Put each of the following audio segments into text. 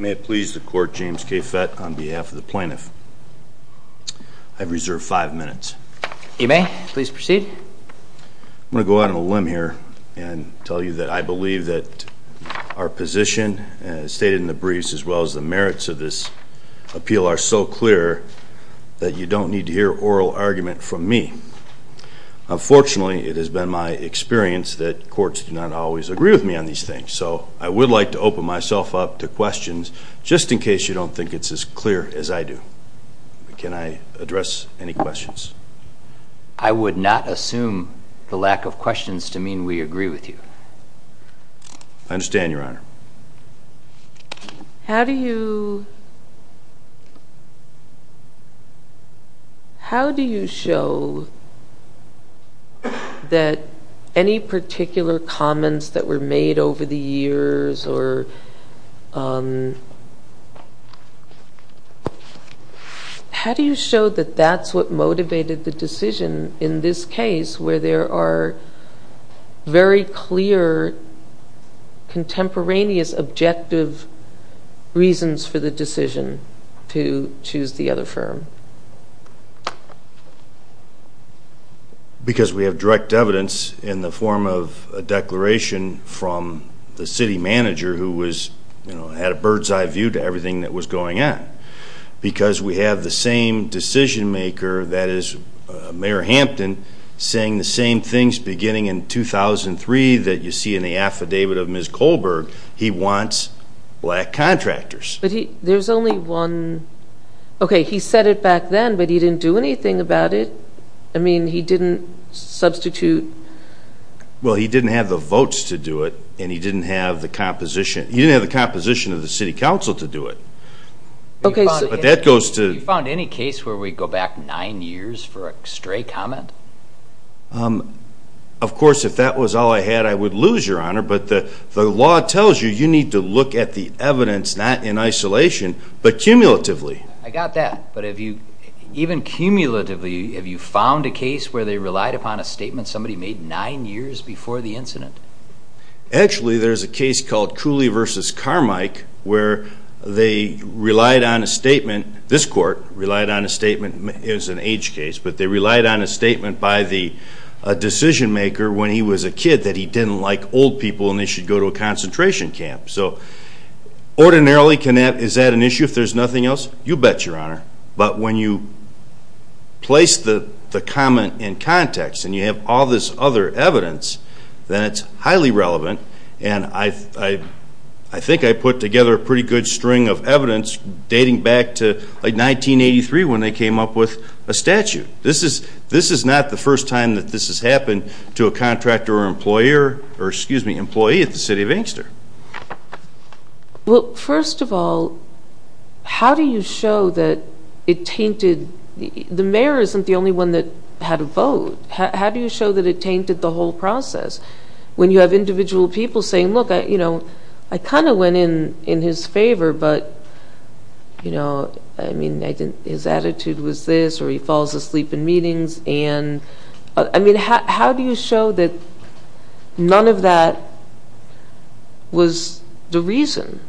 May it please the court, James K. Fett, on behalf of the plaintiff, I reserve five minutes. You may, please proceed. I'm going to go out on a limb here and tell you that I believe that our position stated in the briefs as well as the merits of this appeal are so clear that you don't need to hear oral argument from me. Unfortunately, it has been my experience that courts do not always agree with me on these things. So I would like to open myself up to questions, just in case you don't think it's as clear as I do. Can I address any questions? I would not assume the lack of questions to mean we agree with you. I understand, Your Honor. How do you How do you show that any particular comments that were made over the years or How do you show that that's what motivated the decision in this case where there are very clear contemporaneous objective reasons for the decision to choose the other firm? Because we have direct evidence in the form of a declaration from the city manager who had a bird's eye view to everything that was going on. Because we have the same decision maker, that is, Mayor Hampton, saying the same things beginning in 2003 that you see in the affidavit of Ms. Kohlberg. He wants black contractors. But there's only one... Okay, he said it back then, but he didn't do anything about it. I mean, he didn't substitute... Well, he didn't have the votes to do it, and he didn't have the composition. He didn't have the composition of the city council to do it. But that goes to... You found any case where we go back nine years for a stray comment? Of course, if that was all I had, I would lose, Your Honor. But the law tells you you need to look at the evidence, not in isolation, but cumulatively. I got that. But even cumulatively, have you found a case where they relied upon a statement somebody made nine years before the incident? Actually, there's a case called Cooley v. Carmike where they relied on a statement. This court relied on a statement. It was an age case, but they relied on a statement by the decision maker when he was a kid that he didn't like old people and they should go to a concentration camp. So ordinarily, is that an issue if there's nothing else? You bet, Your Honor. But when you place the comment in context and you have all this other evidence, then it's highly relevant. And I think I put together a pretty good string of evidence dating back to, like, 1983 when they came up with a statute. This is not the first time that this has happened to a contractor or employer or, excuse me, employee at the city of Inkster. Well, first of all, how do you show that it tainted? The mayor isn't the only one that had a vote. How do you show that it tainted the whole process when you have individual people saying, I kind of went in his favor, but, you know, I mean, his attitude was this or he falls asleep in meetings. And I mean, how do you show that none of that was the reason,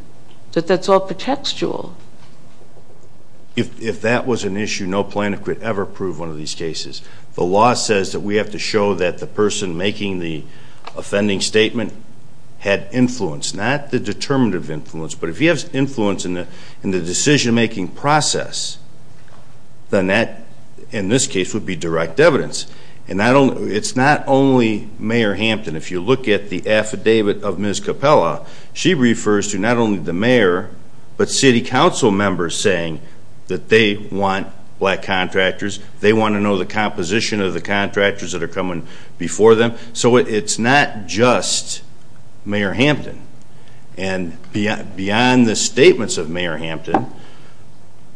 that that's all pretextual? If that was an issue, no plaintiff could ever prove one of these cases. The law says that we have to show that the person making the offending statement had influence, not the determinative influence, but if he has influence in the decision-making process, then that, in this case, would be direct evidence. And it's not only Mayor Hampton. If you look at the affidavit of Ms. Capella, she refers to not only the mayor, but city council members saying that they want black contractors, they want to know the composition of the contractors that are coming before them. So it's not just Mayor Hampton. And beyond the statements of Mayor Hampton,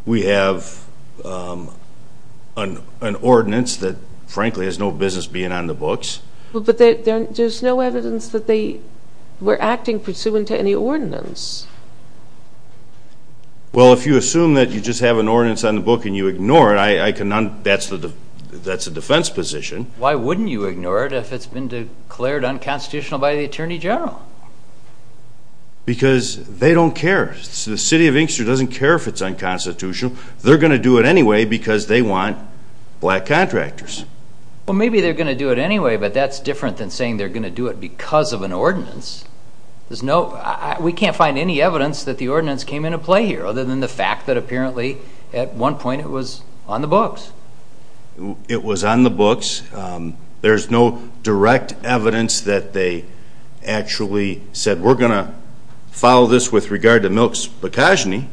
we have an ordinance that, frankly, has no business being on the books. But there's no evidence that they were acting pursuant to any ordinance. Well, if you assume that you just have an ordinance on the book and you ignore it, that's a defense position. Why wouldn't you ignore it if it's been declared unconstitutional by the Attorney General? Because they don't care. The city of Inkster doesn't care if it's unconstitutional. They're going to do it anyway because they want black contractors. Well, maybe they're going to do it anyway, but that's different than saying they're going to do it because of an ordinance. We can't find any evidence that the ordinance came into play here, other than the fact that, apparently, at one point it was on the books. It was on the books. There's no direct evidence that they actually said, we're going to follow this with regard to Milk's bacchogeny.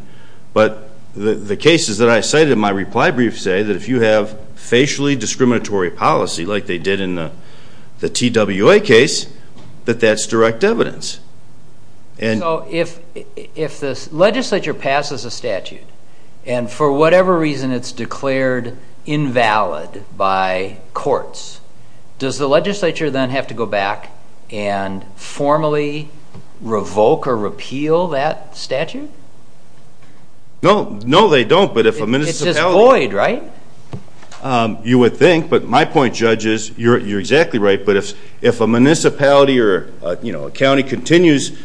But the cases that I cited in my reply brief say that if you have facially discriminatory policy, like they did in the TWA case, that that's direct evidence. So if the legislature passes a statute and, for whatever reason, it's declared invalid by courts, does the legislature then have to go back and formally revoke or repeal that statute? No, they don't. It's just void, right? You would think. But my point, Judge, is you're exactly right. But if a municipality or a county continues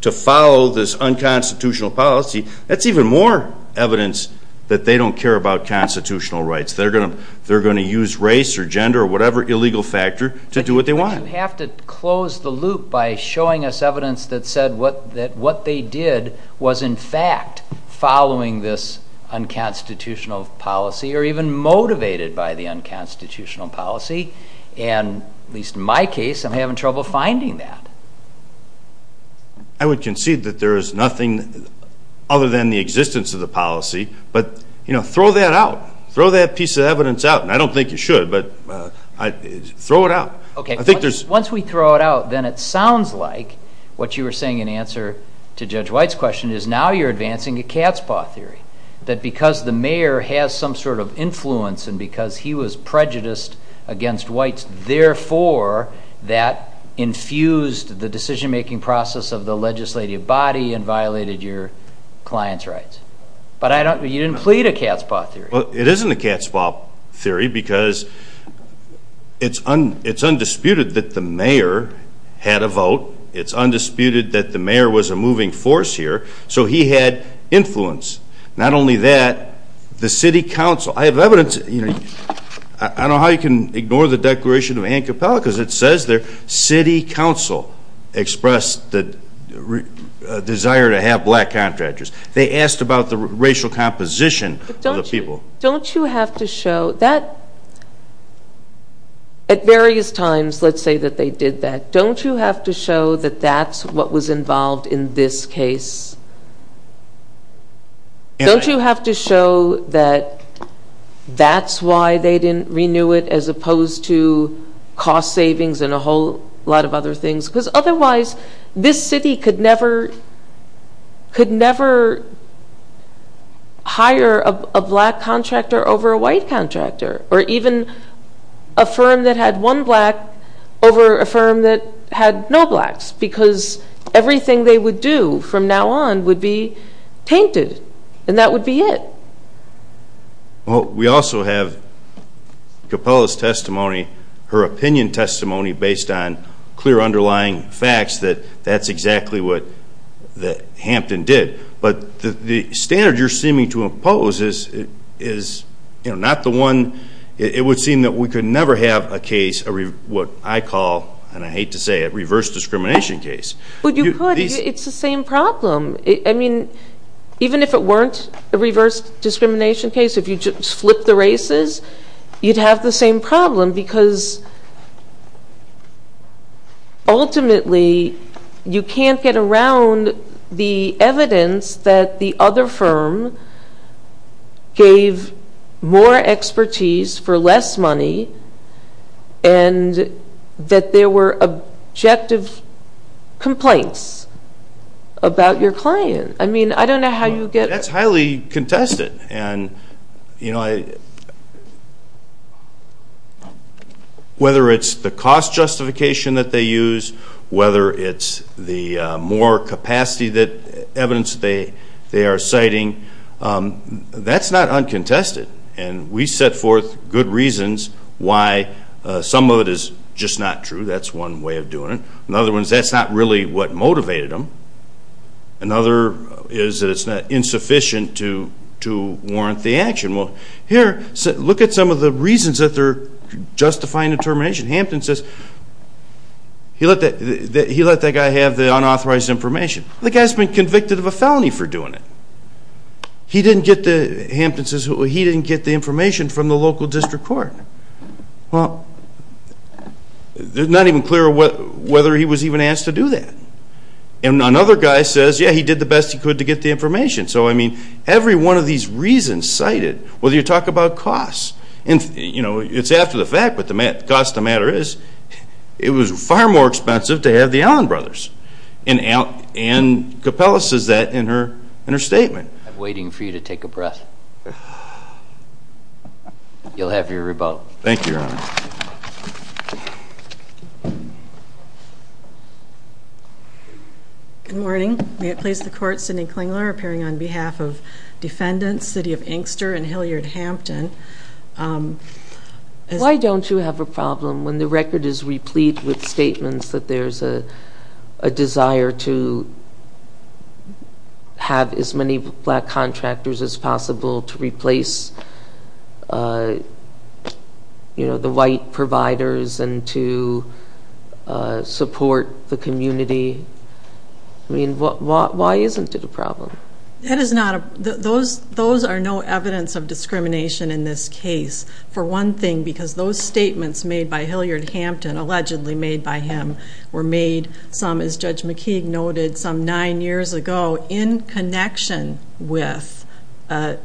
to follow this unconstitutional policy, that's even more evidence that they don't care about constitutional rights. They're going to use race or gender or whatever illegal factor to do what they want. But you have to close the loop by showing us evidence that said that what they did was, in fact, following this unconstitutional policy or even motivated by the unconstitutional policy. And, at least in my case, I'm having trouble finding that. I would concede that there is nothing other than the existence of the policy. But throw that out. Throw that piece of evidence out. And I don't think you should, but throw it out. Once we throw it out, then it sounds like what you were saying in answer to Judge White's question is now you're advancing a cat's paw theory, that because the mayor has some sort of influence and because he was prejudiced against Whites, therefore, that infused the decision-making process of the legislative body and violated your client's rights. But you didn't plead a cat's paw theory. Well, it isn't a cat's paw theory because it's undisputed that the mayor had a vote. It's undisputed that the mayor was a moving force here. So he had influence. Not only that, the city council. I have evidence. I don't know how you can ignore the Declaration of Ancapella because it says there city council expressed the desire to have Black contractors. They asked about the racial composition of the people. But don't you have to show that at various times, let's say that they did that, don't you have to show that that's what was involved in this case? Don't you have to show that that's why they didn't renew it as opposed to cost savings and a whole lot of other things? Because otherwise this city could never hire a Black contractor over a White contractor or even a firm that had one Black over a firm that had no Blacks because everything they would do from now on would be tainted, and that would be it. Well, we also have Capella's testimony, her opinion testimony based on clear underlying facts that that's exactly what Hampton did. But the standard you're seeming to impose is not the one. It would seem that we could never have a case, what I call, and I hate to say it, a reverse discrimination case. Well, you could. It's the same problem. I mean, even if it weren't a reverse discrimination case, if you just flip the races, you'd have the same problem because ultimately you can't get around the evidence that the other firm gave more expertise for less money and that there were objective complaints about your client. I mean, I don't know how you get. That's highly contested. And, you know, whether it's the cost justification that they use, whether it's the more capacity evidence they are citing, that's not uncontested. And we set forth good reasons why some of it is just not true. That's one way of doing it. Another one is that's not really what motivated them. Another is that it's insufficient to warrant the action. Well, here, look at some of the reasons that they're justifying the termination. Hampton says he let that guy have the unauthorized information. The guy's been convicted of a felony for doing it. Hampton says he didn't get the information from the local district court. Well, it's not even clear whether he was even asked to do that. And another guy says, yeah, he did the best he could to get the information. So, I mean, every one of these reasons cited, whether you talk about costs, it's after the fact, but the cost of the matter is it was far more expensive to have the Allen brothers. And Capella says that in her statement. I'm waiting for you to take a breath. You'll have your rebuttal. Thank you, Your Honor. Good morning. May it please the Court, Cindy Klingler appearing on behalf of defendants, City of Inkster and Hilliard Hampton. Why don't you have a problem when the record is replete with statements that there's a desire to have as many black contractors as possible to replace the white providers and to support the community? I mean, why isn't it a problem? Those are no evidence of discrimination in this case, for one thing, because those statements made by Hilliard Hampton, allegedly made by him, were made some, as Judge McKeague noted, some nine years ago, in connection with a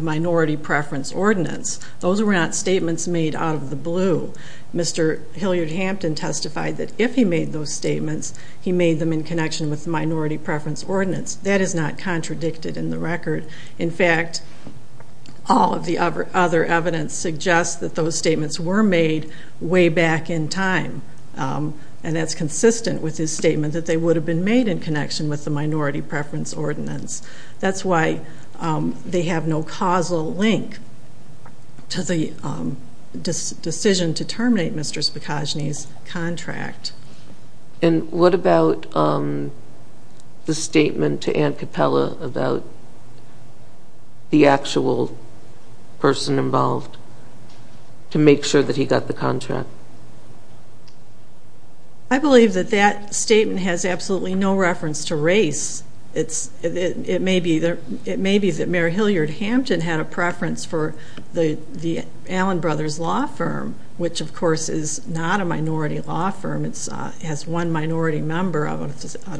minority preference ordinance. Those were not statements made out of the blue. Mr. Hilliard Hampton testified that if he made those statements, he made them in connection with the minority preference ordinance. That is not contradicted in the record. In fact, all of the other evidence suggests that those statements were made way back in time, and that's consistent with his statement that they would have been made in connection with the minority preference ordinance. That's why they have no causal link to the decision to terminate Mr. Spikagny's contract. And what about the statement to Ann Capella about the actual person involved to make sure that he got the contract? I believe that that statement has absolutely no reference to race. It may be that Mayor Hilliard Hampton had a preference for the Allen Brothers Law Firm, which, of course, is not a minority law firm. It has one minority member out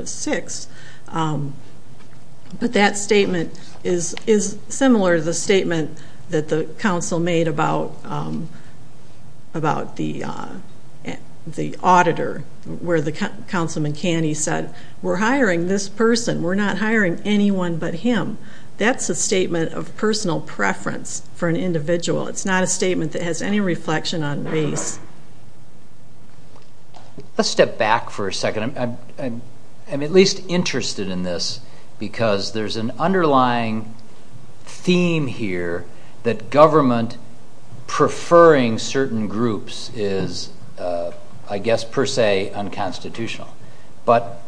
of six. But that statement is similar to the statement that the council made about the auditor, where the Councilman Caney said, we're hiring this person. We're not hiring anyone but him. That's a statement of personal preference for an individual. It's not a statement that has any reflection on race. Let's step back for a second. I'm at least interested in this because there's an underlying theme here that government preferring certain groups is, I guess, per se, unconstitutional. But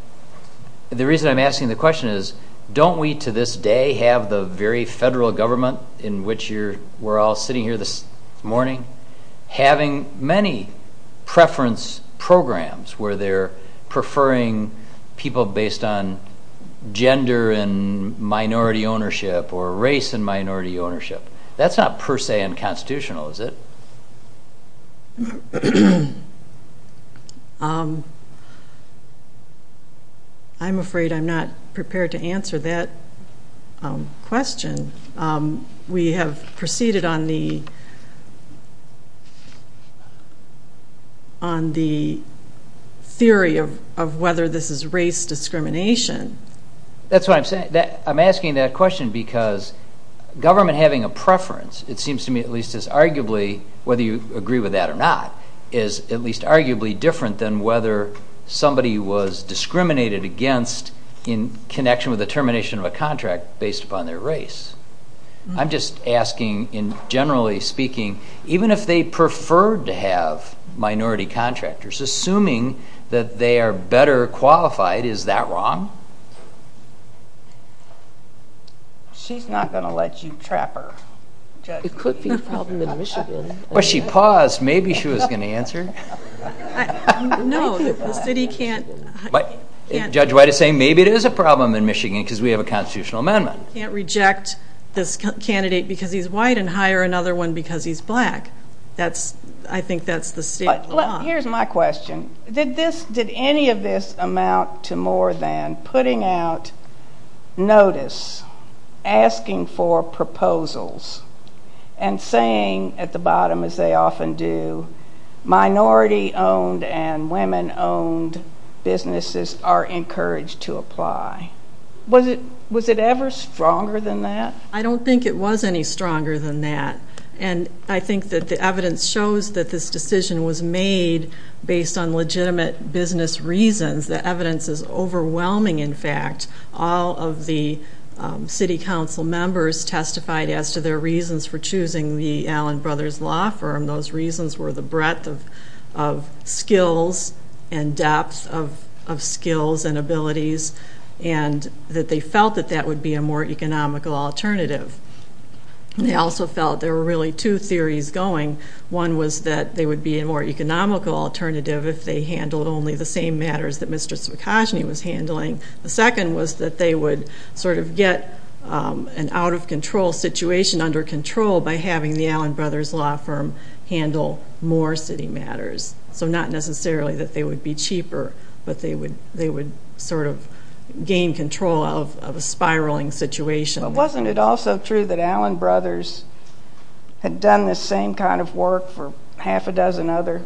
the reason I'm asking the question is, don't we to this day have the very federal government in which we're all sitting here this morning having many preference programs where they're preferring people based on gender and minority ownership or race and minority ownership? That's not per se unconstitutional, is it? I'm afraid I'm not prepared to answer that question. We have proceeded on the theory of whether this is race discrimination. That's what I'm saying. I'm asking that question because government having a preference, it seems to me, at least is arguably, whether you agree with that or not, is at least arguably different than whether somebody was discriminated against in connection with the termination of a contract based upon their race. I'm just asking, generally speaking, even if they preferred to have minority contractors, assuming that they are better qualified, is that wrong? She's not going to let you trap her. It could be a problem in Michigan. Well, she paused. Maybe she was going to answer. No, the city can't. Judge White is saying maybe it is a problem in Michigan because we have a constitutional amendment. You can't reject this candidate because he's white and hire another one because he's black. I think that's the state law. Here's my question. Did any of this amount to more than putting out notice, asking for proposals, and saying at the bottom, as they often do, minority-owned and women-owned businesses are encouraged to apply? Was it ever stronger than that? I don't think it was any stronger than that. I think that the evidence shows that this decision was made based on legitimate business reasons. The evidence is overwhelming, in fact. All of the city council members testified as to their reasons for choosing the Allen Brothers Law Firm. Those reasons were the breadth of skills and depth of skills and abilities, and that they felt that that would be a more economical alternative. They also felt there were really two theories going. One was that they would be a more economical alternative if they handled only the same matters that Mr. Sukoshne was handling. The second was that they would sort of get an out-of-control situation under control by having the Allen Brothers Law Firm handle more city matters. So not necessarily that they would be cheaper, but they would sort of gain control of a spiraling situation. But wasn't it also true that Allen Brothers had done this same kind of work for half a dozen other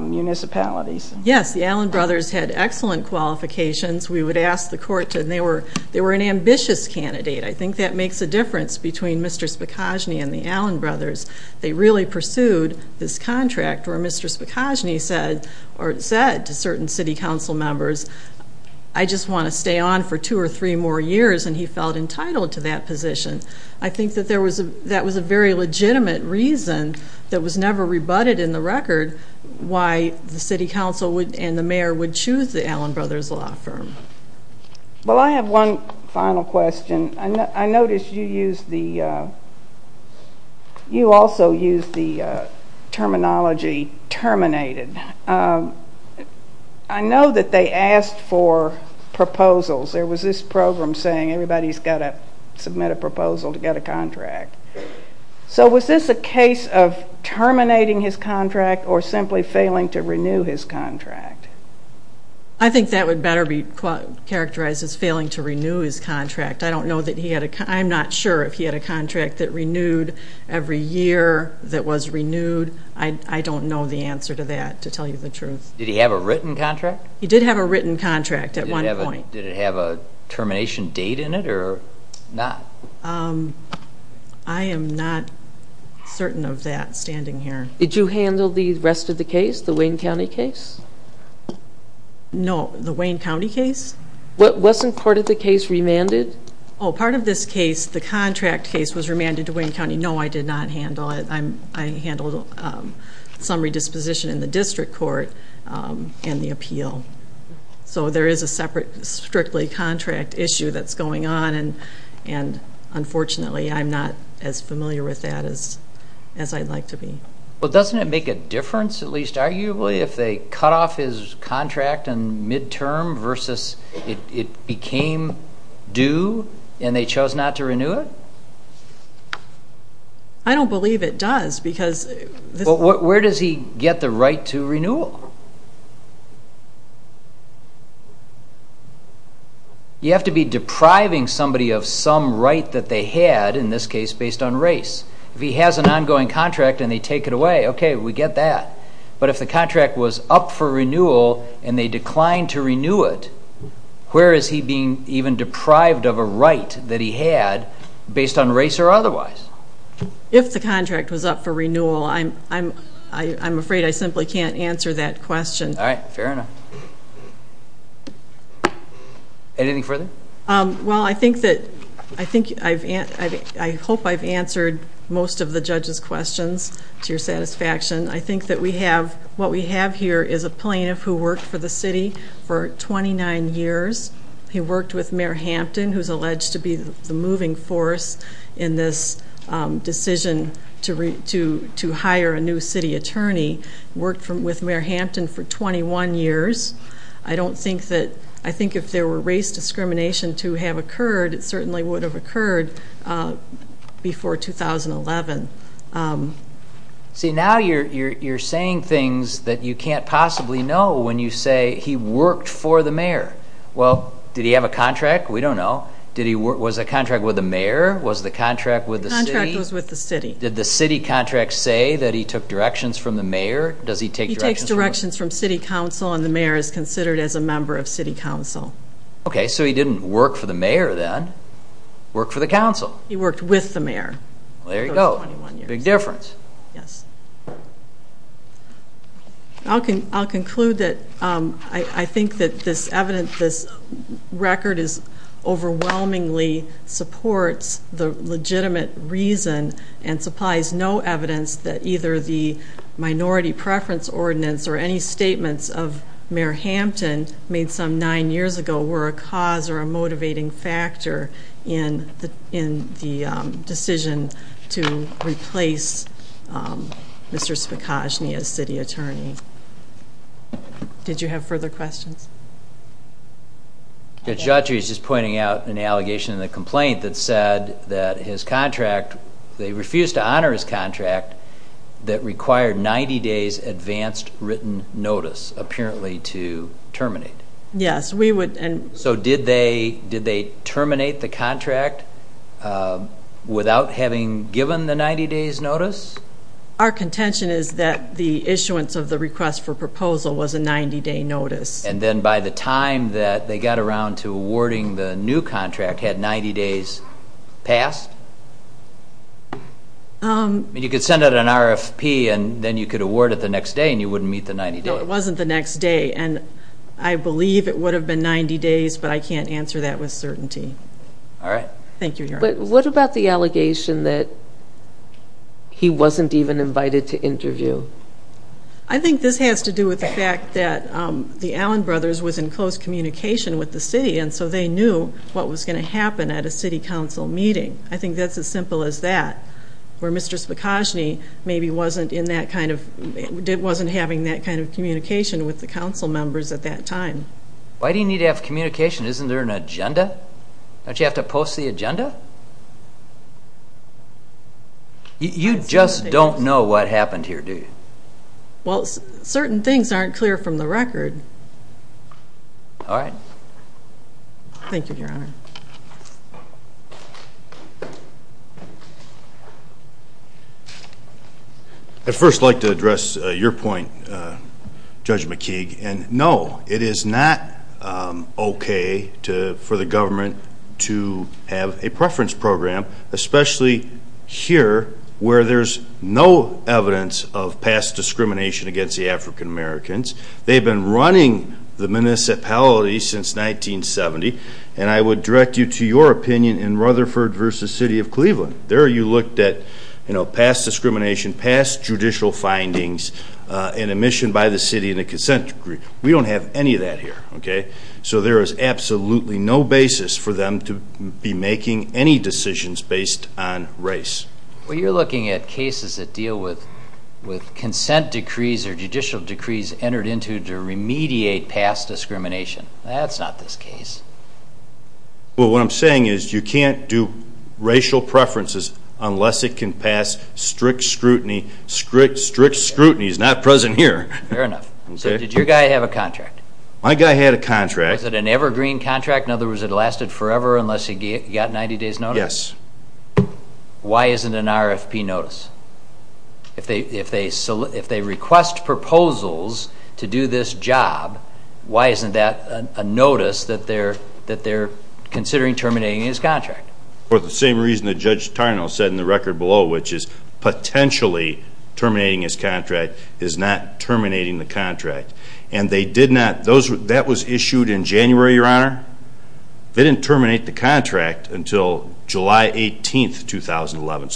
municipalities? Yes, the Allen Brothers had excellent qualifications. We would ask the court, and they were an ambitious candidate. I think that makes a difference between Mr. Sukoshne and the Allen Brothers. They really pursued this contract where Mr. Sukoshne said to certain city council members, I just want to stay on for two or three more years, and he felt entitled to that position. I think that that was a very legitimate reason that was never rebutted in the record why the city council and the mayor would choose the Allen Brothers Law Firm. Well, I have one final question. I noticed you also used the terminology terminated. I know that they asked for proposals. There was this program saying everybody's got to submit a proposal to get a contract. So was this a case of terminating his contract or simply failing to renew his contract? I think that would better be characterized as failing to renew his contract. I'm not sure if he had a contract that renewed every year that was renewed. I don't know the answer to that, to tell you the truth. Did he have a written contract? He did have a written contract at one point. Did it have a termination date in it or not? I am not certain of that standing here. Did you handle the rest of the case, the Wayne County case? No, the Wayne County case? Wasn't part of the case remanded? Oh, part of this case, the contract case, was remanded to Wayne County. No, I did not handle it. I handled some redisposition in the district court and the appeal. So there is a separate strictly contract issue that's going on, and unfortunately I'm not as familiar with that as I'd like to be. Well, doesn't it make a difference, at least arguably, if they cut off his contract in midterm versus it became due and they chose not to renew it? I don't believe it does because this is the case. Well, where does he get the right to renewal? You have to be depriving somebody of some right that they had, in this case, based on race. If he has an ongoing contract and they take it away, okay, we get that. But if the contract was up for renewal and they declined to renew it, where is he being even deprived of a right that he had based on race or otherwise? If the contract was up for renewal, I'm afraid I simply can't answer that question. All right, fair enough. Anything further? Well, I think that I've answered most of the judge's questions, to your satisfaction. I think that what we have here is a plaintiff who worked for the city for 29 years. He worked with Mayor Hampton, who's alleged to be the moving force in this decision to hire a new city attorney, worked with Mayor Hampton for 21 years. I don't think that – I think if there were race discrimination to have occurred, it certainly would have occurred before 2011. See, now you're saying things that you can't possibly know when you say he worked for the mayor. Well, did he have a contract? We don't know. Was the contract with the mayor? Was the contract with the city? The contract was with the city. Did the city contract say that he took directions from the mayor? Does he take directions from the mayor? He takes directions from city council, and the mayor is considered as a member of city council. Worked for the council. He worked with the mayor. There you go. Big difference. Yes. I'll conclude that I think that this record overwhelmingly supports the legitimate reason and supplies no evidence that either the minority preference ordinance or any statements of Mayor Hampton made some nine years ago were a cause or a motivating factor in the decision to replace Mr. Spikoshny as city attorney. Did you have further questions? Judge, he was just pointing out an allegation in the complaint that said that his contract – they refused to honor his contract that required 90 days advanced written notice, apparently, to terminate. Yes, we would – So did they terminate the contract without having given the 90 days notice? Our contention is that the issuance of the request for proposal was a 90 day notice. And then by the time that they got around to awarding the new contract, had 90 days passed? You could send out an RFP and then you could award it the next day and you wouldn't meet the 90 days. No, it wasn't the next day. And I believe it would have been 90 days, but I can't answer that with certainty. All right. Thank you, Your Honor. But what about the allegation that he wasn't even invited to interview? I think this has to do with the fact that the Allen brothers was in close communication with the city, and so they knew what was going to happen at a city council meeting. I think that's as simple as that. Where Mr. Spikosny maybe wasn't in that kind of – wasn't having that kind of communication with the council members at that time. Why do you need to have communication? Isn't there an agenda? Don't you have to post the agenda? You just don't know what happened here, do you? Well, certain things aren't clear from the record. All right. Thank you, Your Honor. I'd first like to address your point, Judge McKeague, and no, it is not okay for the government to have a preference program, especially here where there's no evidence of past discrimination against the African Americans. They've been running the municipality since 1970, and I would direct you to your opinion in Rutherford v. City of Cleveland. There you looked at past discrimination, past judicial findings, and admission by the city in a consent decree. We don't have any of that here, okay? So there is absolutely no basis for them to be making any decisions based on race. Well, you're looking at cases that deal with consent decrees or judicial decrees entered into to remediate past discrimination. That's not this case. Well, what I'm saying is you can't do racial preferences unless it can pass strict scrutiny. Strict scrutiny is not present here. Fair enough. So did your guy have a contract? My guy had a contract. Was it an evergreen contract? In other words, it lasted forever unless he got 90 days notice? Yes. Why isn't an RFP notice? If they request proposals to do this job, why isn't that a notice that they're considering terminating his contract? For the same reason that Judge Tarnow said in the record below, which is potentially terminating his contract is not terminating the contract. And that was issued in January, Your Honor. They didn't terminate the contract until July 18, 2011.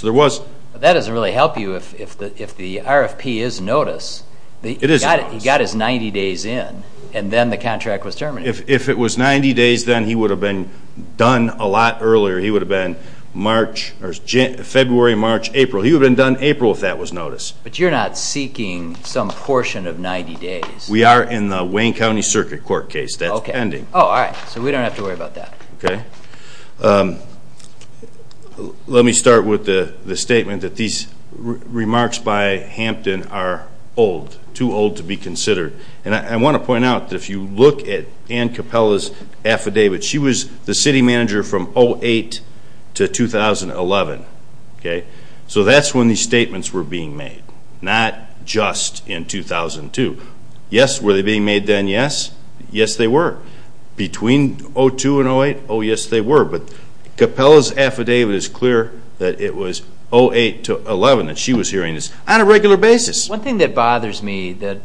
That doesn't really help you if the RFP is notice. It is notice. He got his 90 days in, and then the contract was terminated. If it was 90 days, then he would have been done a lot earlier. He would have been February, March, April. He would have been done April if that was notice. But you're not seeking some portion of 90 days. We are in the Wayne County Circuit Court case. That's pending. All right. So we don't have to worry about that. Okay. Let me start with the statement that these remarks by Hampton are old, too old to be considered. And I want to point out that if you look at Ann Capella's affidavit, she was the city manager from 2008 to 2011. So that's when these statements were being made, not just in 2002. Yes, were they being made then? Yes. Yes, they were. Between 2002 and 2008, oh, yes, they were. But Capella's affidavit is clear that it was 2008 to 2011 that she was hearing this, on a regular basis. One thing that bothers me that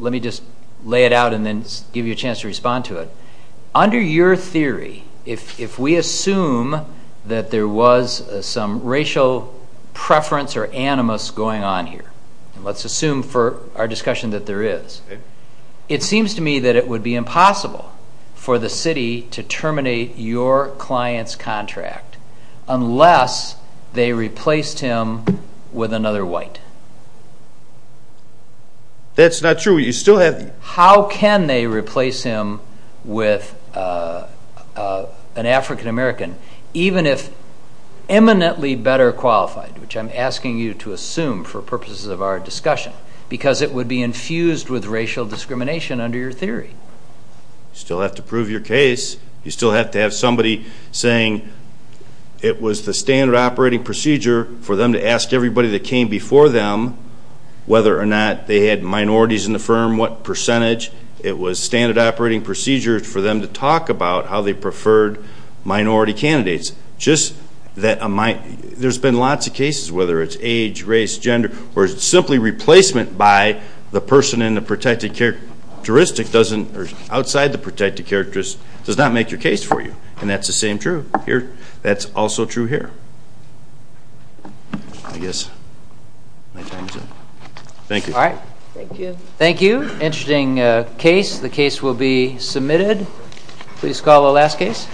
let me just lay it out and then give you a chance to respond to it. Under your theory, if we assume that there was some racial preference or animus going on here, let's assume for our discussion that there is, it seems to me that it would be impossible for the city to terminate your client's That's not true. How can they replace him with an African-American, even if eminently better qualified, which I'm asking you to assume for purposes of our discussion, because it would be infused with racial discrimination under your theory. You still have to prove your case. You still have to have somebody saying it was the standard operating procedure for them to ask everybody that came before them whether or not they had minorities in the firm, what percentage. It was standard operating procedure for them to talk about how they preferred minority candidates. There's been lots of cases, whether it's age, race, gender, where simply replacement by the person in the protected characteristic or outside the protected characteristic does not make your case for you. And that's the same true here. That's also true here. I guess my time is up. Thank you. Thank you. Thank you. Interesting case. The case will be submitted. Please call the last case.